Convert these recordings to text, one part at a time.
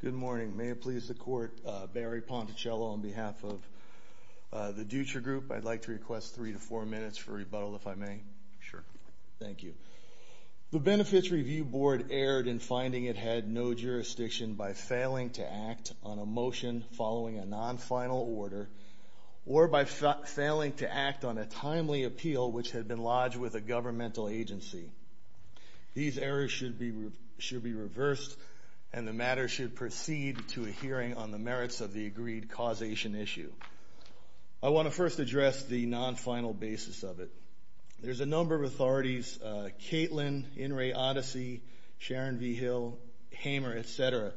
Good morning. May it please the Court, Barry Ponticello on behalf of the Dutra Group, I'd like to request three to four minutes for rebuttal, if I may. Sure. Thank you. The Benefits Review Board erred in finding it had no jurisdiction by failing to act on a motion following a non-final order or by failing to act on a timely appeal which had been lodged with a governmental agency. These errors should be reversed and the matter should proceed to a hearing on the merits of the agreed causation issue. I want to first address the non-final basis of it. There's a number of authorities, Caitlin, In re Odyssey, Sharon V. Hill, Hamer, et cetera,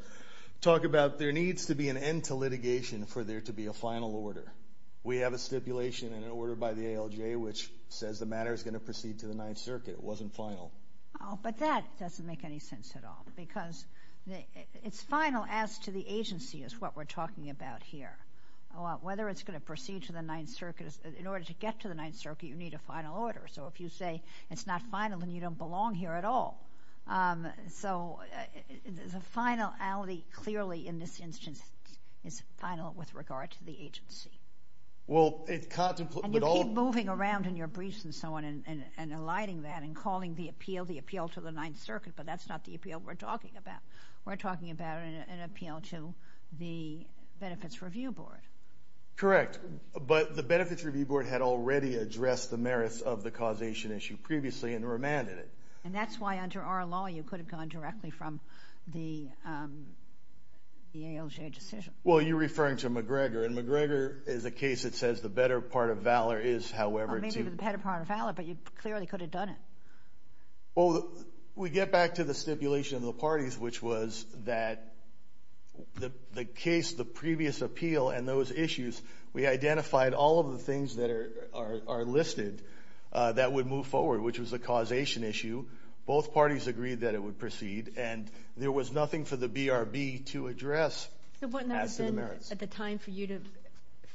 talk about there needs to be an end to litigation for there to be a final order. We have a stipulation and an order by the ALJ which says the matter is going to proceed to the Ninth Circuit. It wasn't final. Oh, but that doesn't make any sense at all because it's final as to the agency is what we're talking about here. Whether it's going to proceed to the Ninth Circuit, in order to get to the Ninth Circuit, you need a final order. So if you say it's not final then you don't belong here at all. So the finality clearly in this instance is final with regard to the agency. Well, it contemplates... And you keep moving around in your briefs and so on and alighting that and calling the appeal, the appeal to the Ninth Circuit, but that's not the appeal we're talking about. We're talking about an appeal to the Benefits Review Board. Correct, but the Benefits Review Board had already addressed the merits of the causation issue previously and remanded it. And that's why under our law you could have gone directly from the ALJ decision. Well, you're referring to McGregor. And McGregor is a case that says the better part of valor is however to... Maybe the better part of valor, but you clearly could have done it. Well, we get back to the stipulation of the parties, which was that the case, the previous appeal and those issues, we identified all of the things that are listed that would move forward, which was the causation issue. Both parties agreed that it would proceed and there was nothing for the BRB to address. So wouldn't that have been at the time for you to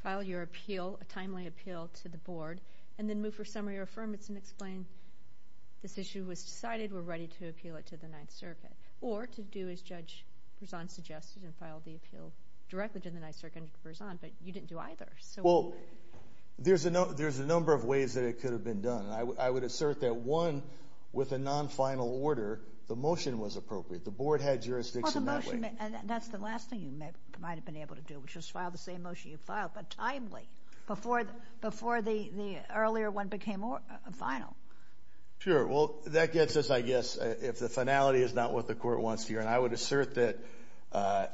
file your appeal, a timely appeal to the board, and then move for summary or affirmance and explain this issue was decided, we're ready to appeal it to the Ninth Circuit. Or to do as Judge Berzon suggested and file the appeal directly to the Ninth Circuit under Berzon, but you didn't do either. Well, there's a number of ways that it could have been done. I would assert that one, with a non-final order, the motion was appropriate. The board had jurisdiction that way. And that's the last thing you might have been able to do, which was file the same motion you filed, but timely, before the earlier one became final. Sure. Well, that gets us, I guess, if the finality is not what the court wants to hear. And I would assert that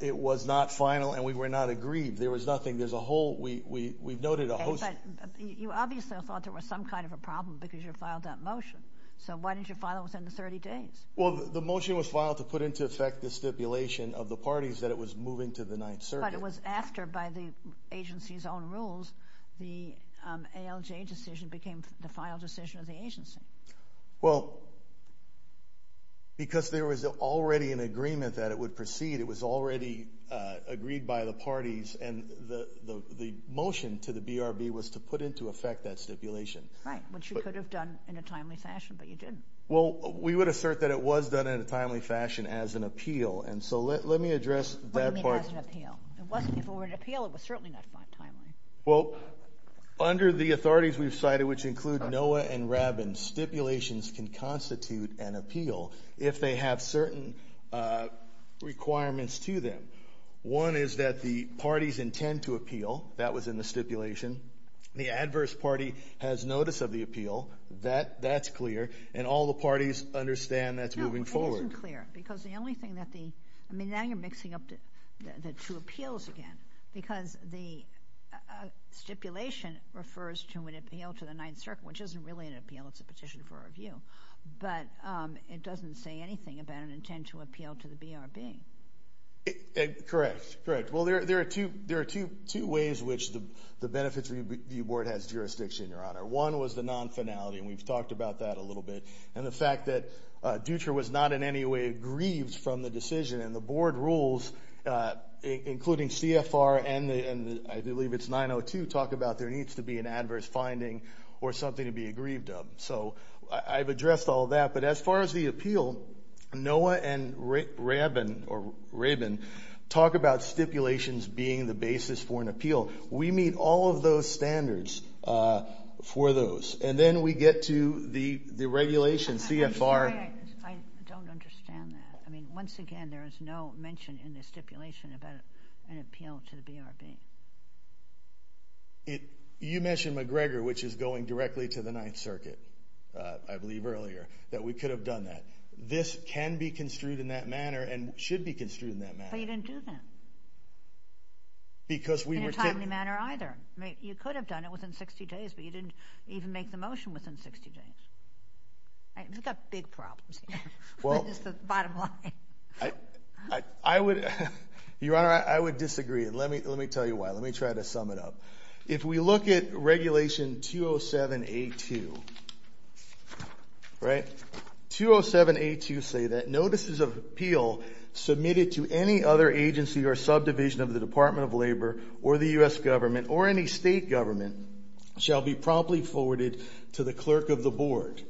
it was not final and we were not agreed. There was nothing. There's a whole, we've noted a whole. You obviously thought there was some kind of a problem because you filed that motion. So why didn't you file it within the 30 days? Well, the motion was filed to put into effect the stipulation of the parties that it was moving to the Ninth Circuit. But it was after, by the agency's own rules, the ALJ decision became the final decision of the agency. Well, because there was already an agreement that it would proceed, it was already agreed by the parties and the motion to the BRB was to put into effect that stipulation. Right, which you could have done in a timely fashion, but you didn't. Well, we would assert that it was done in a timely fashion as an appeal. And so let me address that part. What do you mean as an appeal? If it were an appeal, it was certainly not timely. Well, under the authorities we've cited, which include NOAA and RABIN, stipulations can constitute an appeal if they have certain requirements to them. One is that the parties intend to appeal. The adverse party has notice of the appeal. That's clear. And all the parties understand that's moving forward. No, it isn't clear. Because the only thing that the, I mean, now you're mixing up the two appeals again. Because the stipulation refers to an appeal to the Ninth Circuit, which isn't really an appeal, it's a petition for review. But it doesn't say anything about an intent to appeal to the BRB. Correct. Well, there are two ways which the Benefits Review Board has jurisdiction, Your Honor. One was the non-finality, and we've talked about that a little bit. And the fact that Dutra was not in any way grieved from the decision. And the board rules, including CFR and I believe it's 902, talk about there needs to be an adverse finding or something to be aggrieved of. So I've addressed all that. But as far as the appeal, NOAA and RABIN talk about stipulations being the basis for an appeal. We meet all of those standards for those. And then we get to the regulations, CFR. I'm sorry, I don't understand that. I mean, once again, there is no mention in the stipulation about an appeal to the BRB. You mentioned McGregor, which is going directly to the Ninth Circuit, I believe earlier, that we could have done that. This can be construed in that manner and should be construed in that manner. But you didn't do that. In a timely manner, either. You could have done it within 60 days, but you didn't even make the motion within 60 days. We've got big problems here, is the bottom line. I would, Your Honor, I would disagree. Let me tell you why. Let me try to sum it up. If we look at Regulation 207A2, right, 207A2 say that notices of appeal submitted to any other agency or subdivision of the Department of Labor or the U.S. government or any state government shall be promptly forwarded to the clerk of the board.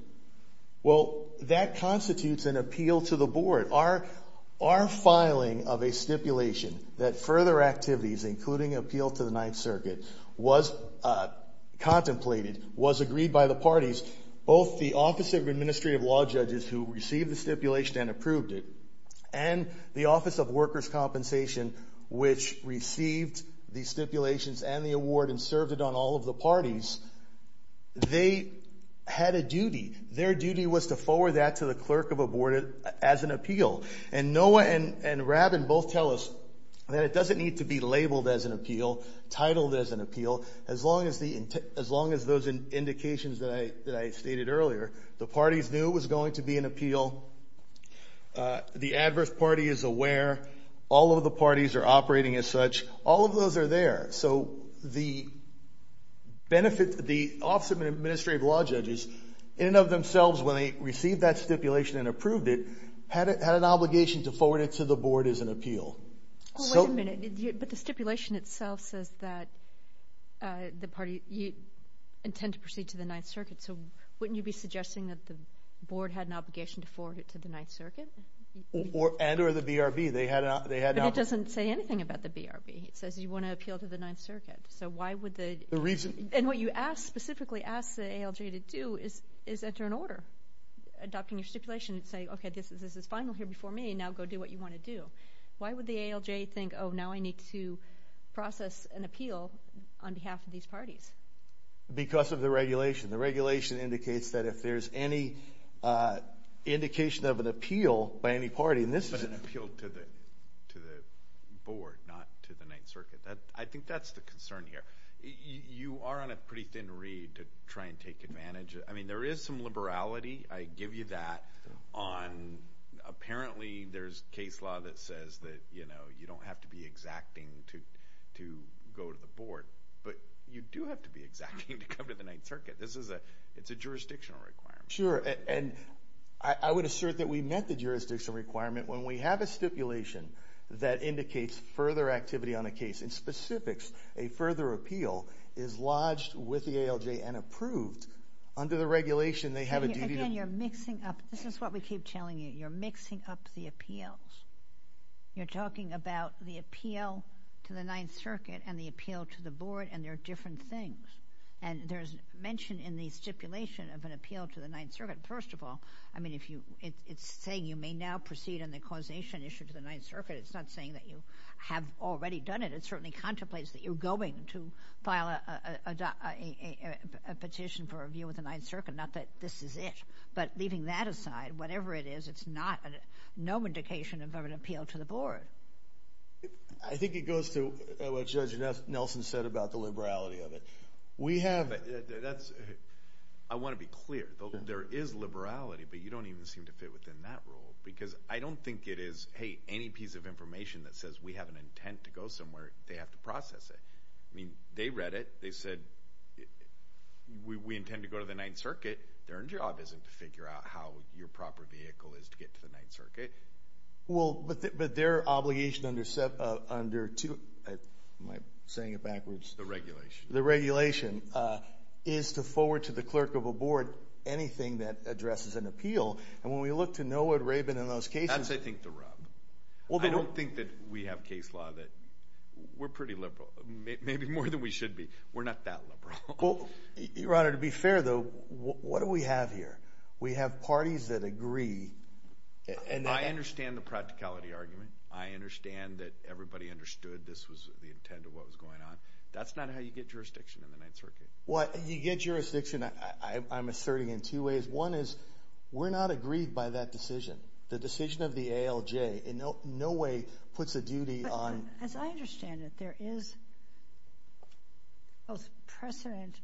Well, that constitutes an appeal to the board. Our filing of a stipulation that further activities, including appeal to the Ninth Circuit, was contemplated, was agreed by the parties, both the Office of Administrative Law Judges who which received the stipulations and the award and served it on all of the parties, they had a duty. Their duty was to forward that to the clerk of a board as an appeal. And Noah and Robin both tell us that it doesn't need to be labeled as an appeal, titled as an appeal, as long as those indications that I stated earlier, the parties knew it was going to be an appeal. The adverse party is aware. All of the parties are operating as such. All of those are there. So the benefit, the Office of Administrative Law Judges, in and of themselves, when they received that stipulation and approved it, had an obligation to forward it to the board as an appeal. Wait a minute. But the stipulation itself says that the party intend to proceed to the Ninth Circuit. So wouldn't you be suggesting that the board had an obligation to forward it to the Ninth Circuit? And or the BRB. They had an obligation. But it doesn't say anything about the BRB. It says you want to appeal to the Ninth Circuit. So why would the... The reason... And what you specifically asked the ALJ to do is enter an order adopting your stipulation and say, okay, this is final here before me, now go do what you want to do. Why would the ALJ think, oh, now I need to process an appeal on behalf of these parties? Because of the regulation. The regulation indicates that if there's any indication of an appeal by any party, and this is... But an appeal to the board, not to the Ninth Circuit. I think that's the concern here. You are on a pretty thin reed to try and take advantage. I mean, there is some liberality, I give you that, on apparently there's case law that says that you don't have to be exacting to go to the board. But you do have to be exacting to come to the Ninth Circuit. This is a... It's a jurisdictional requirement. Sure. And I would assert that we met the jurisdictional requirement. When we have a stipulation that indicates further activity on a case, in specifics, a further appeal is lodged with the ALJ and approved under the regulation they have a duty to... Again, you're mixing up... This is what we keep telling you. You're mixing up the appeals. You're talking about the appeal to the Ninth Circuit and the appeal to the board, and they're different things. And there's mention in the stipulation of an appeal to the Ninth Circuit. First of all, I mean, if you... It's saying you may now proceed on the causation issue to the Ninth Circuit. It's not saying that you have already done it. It certainly contemplates that you're going to file a petition for review with the Ninth Circuit, not that this is it. But leaving that aside, whatever it is, it's not a... No indication of an appeal to the board. I think it goes to what Judge Nelson said about the liberality of it. We have... That's... I want to be clear. There is liberality, but you don't even seem to fit within that rule. Because I don't think it is, hey, any piece of information that says we have an intent to go somewhere, they have to process it. I mean, they read it, they said, we intend to go to the Ninth Circuit. Their job isn't to figure out how your proper vehicle is to get to the Ninth Circuit. Well, but their obligation under two... Am I saying it backwards? The regulation. The regulation is to forward to the clerk of a board anything that addresses an appeal. And when we look to Noah Rabin and those cases... That's, I think, the rub. Well, they don't think that we have case law that... We're pretty liberal, maybe more than we should be. We're not that liberal. Well, Your Honor, to be fair, though, what do we have here? We have parties that agree. I understand the practicality argument. I understand that everybody understood this was the intent of what was going on. That's not how you get jurisdiction in the Ninth Circuit. Well, you get jurisdiction, I'm asserting, in two ways. One is, we're not agreed by that decision. The decision of the ALJ in no way puts a duty on... As I understand it, there is both precedent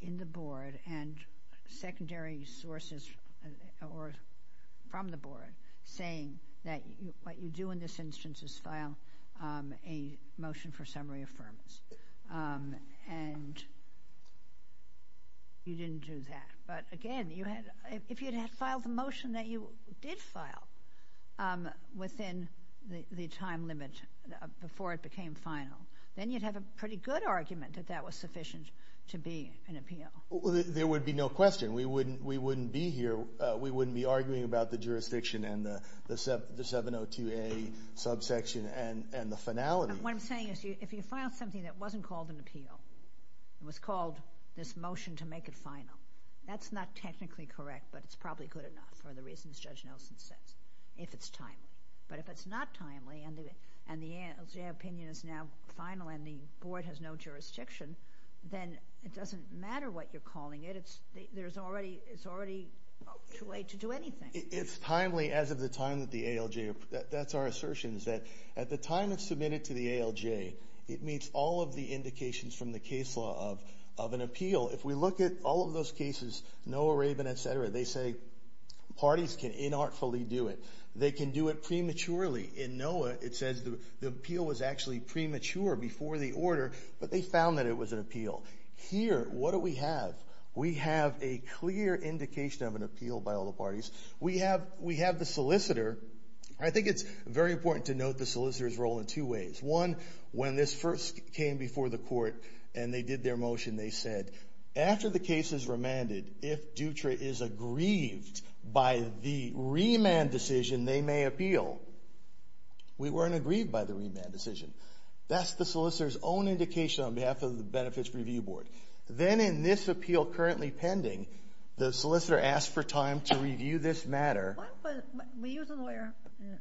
in the board and secondary sources or from the board saying that what you do in this instance is file a motion for summary affirmance. And you didn't do that. But again, if you had filed the motion that you did file within the time limit before it became final, then you'd have a pretty good argument that that was sufficient to be an appeal. There would be no question. We wouldn't be here. We wouldn't be arguing about the jurisdiction and the 702A subsection and the finality. What I'm saying is, if you file something that wasn't called an appeal, it was called this motion to make it final. That's not technically correct, but it's probably good enough for the reasons Judge Nelson says, if it's timely. But if it's not timely, and the ALJ opinion is now final and the board has no jurisdiction, then it doesn't matter what you're calling it, it's already too late to do anything. It's timely as of the time that the ALJ... That's our assertion, is that at the time it's submitted to the ALJ, it meets all of the indications from the case law of an appeal. If we look at all of those cases, Noah Rabin, et cetera, they say parties can inartfully do it. They can do it prematurely. In Noah, it says the appeal was actually premature before the order, but they found that it was an appeal. Here, what do we have? We have a clear indication of an appeal by all the parties. We have the solicitor. I think it's very important to note the solicitor's role in two ways. One, when this first came before the court and they did their motion, they said, after the case is remanded, if Dutra is aggrieved by the remand decision, they may appeal. We weren't aggrieved by the remand decision. That's the solicitor's own indication on behalf of the Benefits Review Board. Then in this appeal currently pending, the solicitor asked for time to review this matter. Were you as a lawyer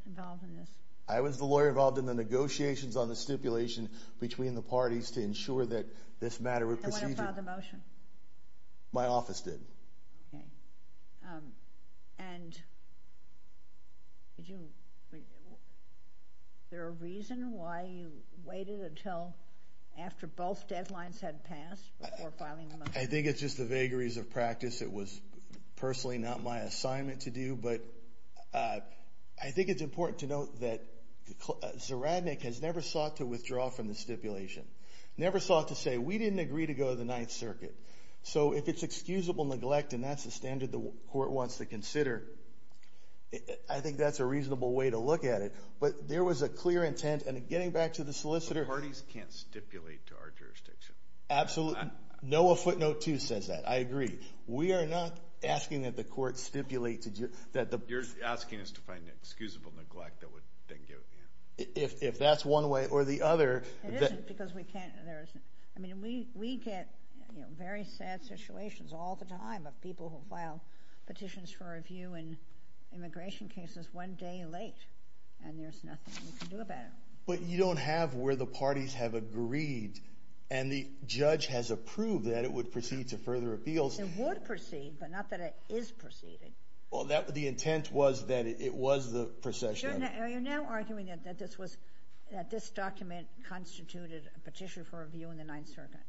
involved in this? I was the lawyer involved in the negotiations on the stipulation between the parties to ensure that this matter was proceeded. And when did you file the motion? My office did. Okay. Is there a reason why you waited until after both deadlines had passed before filing the motion? I think it's just the vagaries of practice. It was personally not my assignment to do, but I think it's important to note that Ziradnik has never sought to withdraw from the stipulation. Never sought to say, we didn't agree to go to the Ninth Circuit. So if it's excusable neglect, and that's the standard the court wants to consider, I think that's a reasonable way to look at it. But there was a clear intent, and getting back to the solicitor. Parties can't stipulate to our jurisdiction. Absolutely. Noah Footnote 2 says that. I agree. We are not asking that the court stipulate to... You're asking us to find an excusable neglect that would then give it to you. If that's one way, or the other... It isn't, because we can't. There isn't. I mean, we get very sad situations all the time of people who file petitions for review in immigration cases one day late, and there's nothing we can do about it. But you don't have where the parties have agreed, and the judge has approved that it would proceed to further appeals. It would proceed, but not that it is proceeding. Well, the intent was that it was the procession. You're now arguing that this document constituted a petition for review in the Ninth Circuit.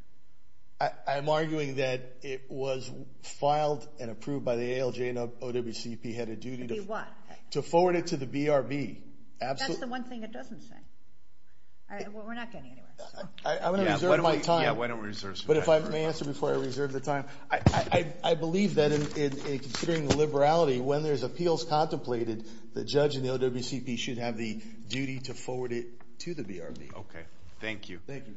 I'm arguing that it was filed and approved by the ALJ and OWCP head of duty to... To do what? To forward it to the BRB. That's the one thing it doesn't say. Well, we're not getting anywhere, so... I'm going to reserve my time. Yeah, why don't we reserve some time? But if I may answer before I reserve the time, I believe that in considering the liberality, when there's appeals contemplated, the judge and the OWCP should have the duty to forward it to the BRB. Okay. Thank you. Thank you.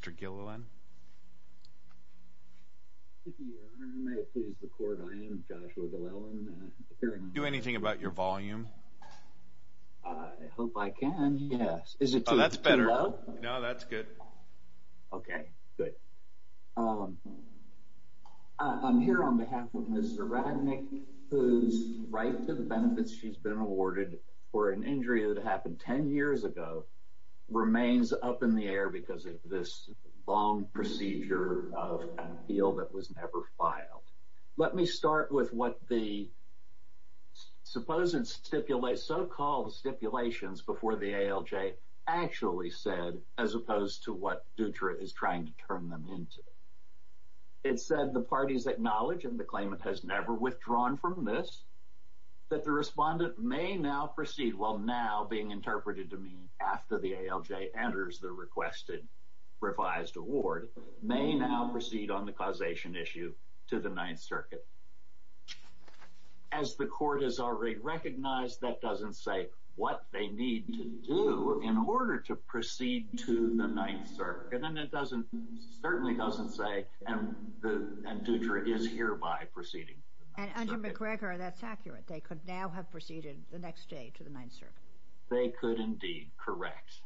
Mr. Gilliland? Your Honor, may it please the Court, I am Joshua Gilliland, and I'm here to... Do anything about your volume? I hope I can, yes. Is it too low? Oh, that's better. No, that's good. Okay, good. I'm here on behalf of Ms. Ziradnik, whose right to the benefits she's been awarded for an injury that happened 10 years ago remains up in the air because of this long procedure of appeal that was never filed. Let me start with what the so-called stipulations before the ALJ actually said, as opposed to what Dutra is trying to turn them into. It said the parties acknowledge, and the claimant has never withdrawn from this, that the respondent may now proceed, while now being interpreted to mean after the ALJ enters the requested revised award, may now proceed on the causation issue to the Ninth Circuit. As the Court has already recognized, that doesn't say what they need to do in order to proceed to the Ninth Circuit, and it doesn't, certainly doesn't say, and Dutra is hereby proceeding. And under McGregor, that's accurate. They could now have proceeded the next day to the Ninth Circuit. They could indeed, correct.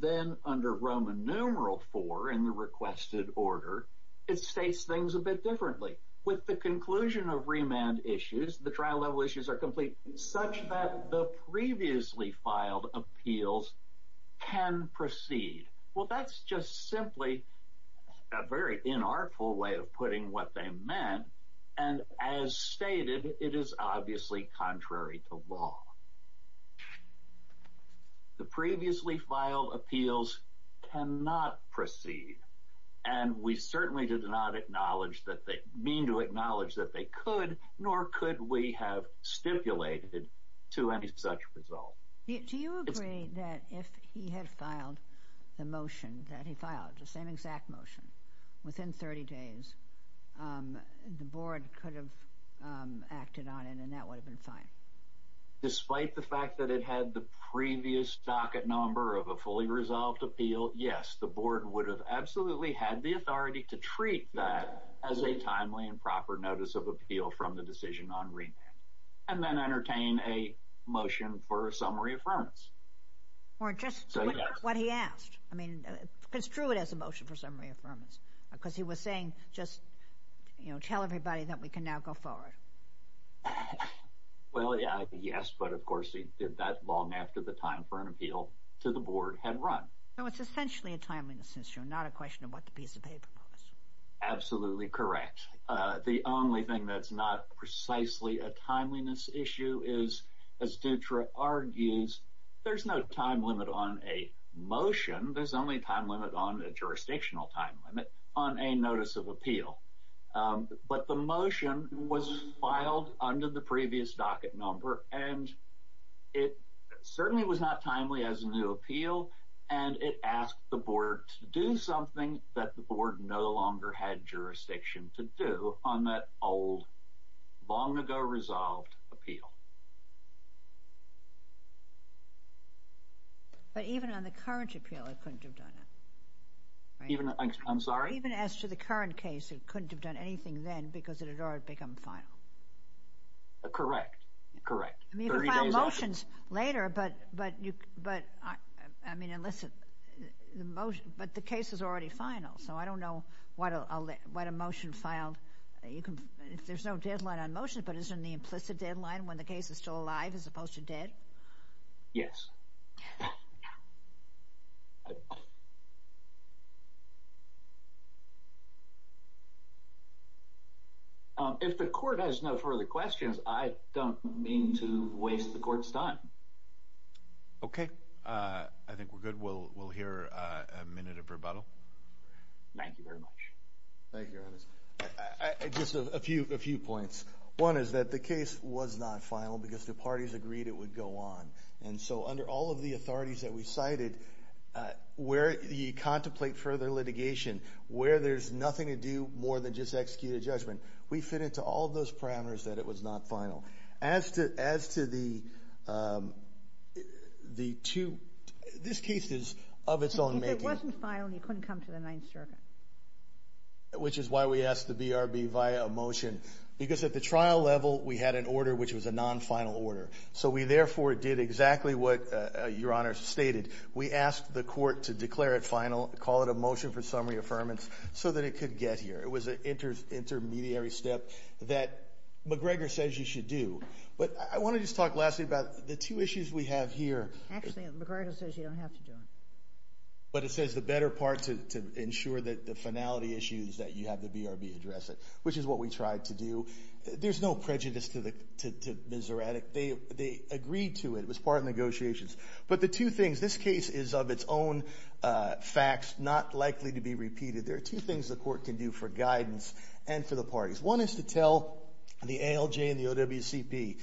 Then under Roman numeral IV in the requested order, it states things a bit differently. With the conclusion of remand issues, the trial-level issues are complete, such that the previously filed appeals can proceed. Well, that's just simply a very inartful way of putting what they meant, and as stated, it is obviously contrary to law. The previously filed appeals cannot proceed, and we certainly did not acknowledge that they, mean to acknowledge that they could, nor could we have stipulated to any such result. Do you agree that if he had filed the motion that he filed, the same exact motion, within 30 days, the Board could have acted on it, and that would have been fine? Despite the fact that it had the previous docket number of a fully resolved appeal, yes, the Board would have absolutely had the authority to treat that as a timely and proper notice of appeal from the decision on remand, and then entertain a motion for a summary affirmance. Or just what he asked. I mean, construe it as a motion for summary affirmance, because he was saying, just, you know, tell everybody that we can now go forward. Well, yes, but of course he did that long after the time for an appeal to the Board had run. So it's essentially a timeliness issue, not a question of what the piece of paper was. Absolutely correct. The only thing that's not precisely a timeliness issue is, as Dutra argues, there's no time limit on a motion, there's only a time limit on a jurisdictional time limit on a notice of appeal. But the motion was filed under the previous docket number, and it certainly was not timely as a new appeal, and it asked the Board to do something that the Board no longer had jurisdiction to do on that old, long-ago resolved appeal. But even on the current appeal, it couldn't have done it. I'm sorry? Even as to the current case, it couldn't have done anything then, because it had already become final. Correct. Correct. I mean, you can file motions later, but, I mean, listen, the motion, but the case is already final, so I don't know what a motion filed, if there's no deadline on motions, but isn't the implicit deadline when the case is still alive as opposed to dead? Yes. If the Court has no further questions, I don't mean to waste the Court's time. Okay. I think we're good. We'll hear a minute of rebuttal. Thank you very much. Thank you, Ernest. Just a few points. One is that the case was not final because the parties agreed it would go on, and so under all of the authorities that we cited, where you contemplate further litigation, where there's nothing to do more than just execute a judgment, we fit into all of those parameters that it was not final. As to the two, this case is of its own making. If it wasn't final, you couldn't come to the Ninth Circuit. Which is why we asked the BRB via a motion, because at the trial level, we had an order which was a non-final order, so we therefore did exactly what Your Honor stated. We asked the Court to declare it final, call it a motion for summary affirmance, so that it could get here. It was an intermediary step that McGregor says you should do, but I want to just talk lastly about the two issues we have here. Actually, McGregor says you don't have to do it. But it says the better part to ensure that the finality issue is that you have the BRB address it, which is what we tried to do. There's no prejudice to the Miseratic. They agreed to it. It was part of negotiations. But the two things, this case is of its own facts, not likely to be repeated. There are two things the Court can do for guidance and for the parties. One is to tell the ALJ and the OWCP,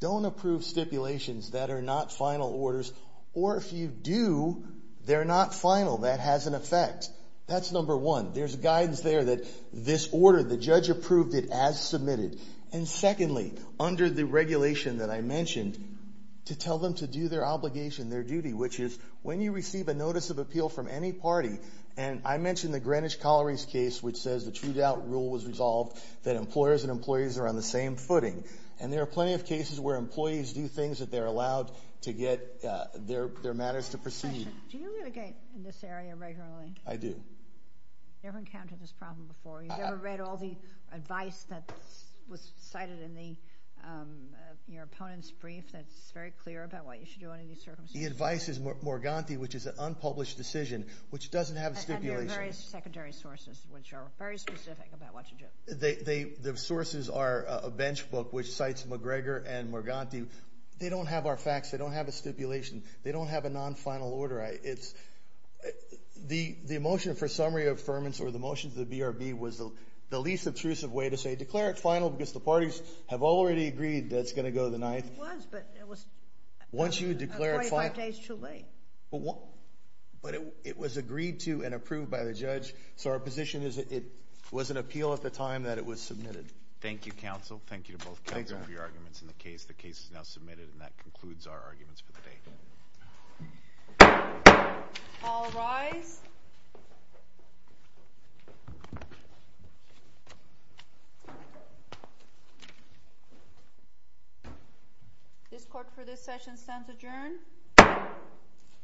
don't approve stipulations that are not final orders, or if you do, they're not final. That has an effect. That's number one. There's guidance there that this order, the judge approved it as submitted. And secondly, under the regulation that I mentioned, to tell them to do their obligation, their duty, which is when you receive a notice of appeal from any party, and I mentioned the Greenwich Colliery's case, which says the true doubt rule was resolved, that employers and employees are on the same footing. And there are plenty of cases where employees do things that they're allowed to get their matters to proceed. Do you litigate in this area regularly? I do. You've never encountered this problem before? You've never read all the advice that was cited in your opponent's brief that's very clear about what you should do under these circumstances? The advice is Morganti, which is an unpublished decision, which doesn't have stipulations. And there are various secondary sources, which are very specific about what you do. The sources are a bench book, which cites McGregor and Morganti. They don't have our facts. They don't have a stipulation. They don't have a non-final order. The motion for summary of affirmance or the motion to the BRB was the least intrusive way to say, declare it final, because the parties have already agreed that it's going to go to the ninth. It was, but it was 25 days too late. But it was agreed to and approved by the judge. So our position is it was an appeal at the time that it was submitted. Thank you, counsel. Thank you to both counsel for your arguments in the case. The case is now submitted, and that concludes our arguments for the day. All rise. This court for this session stands adjourned.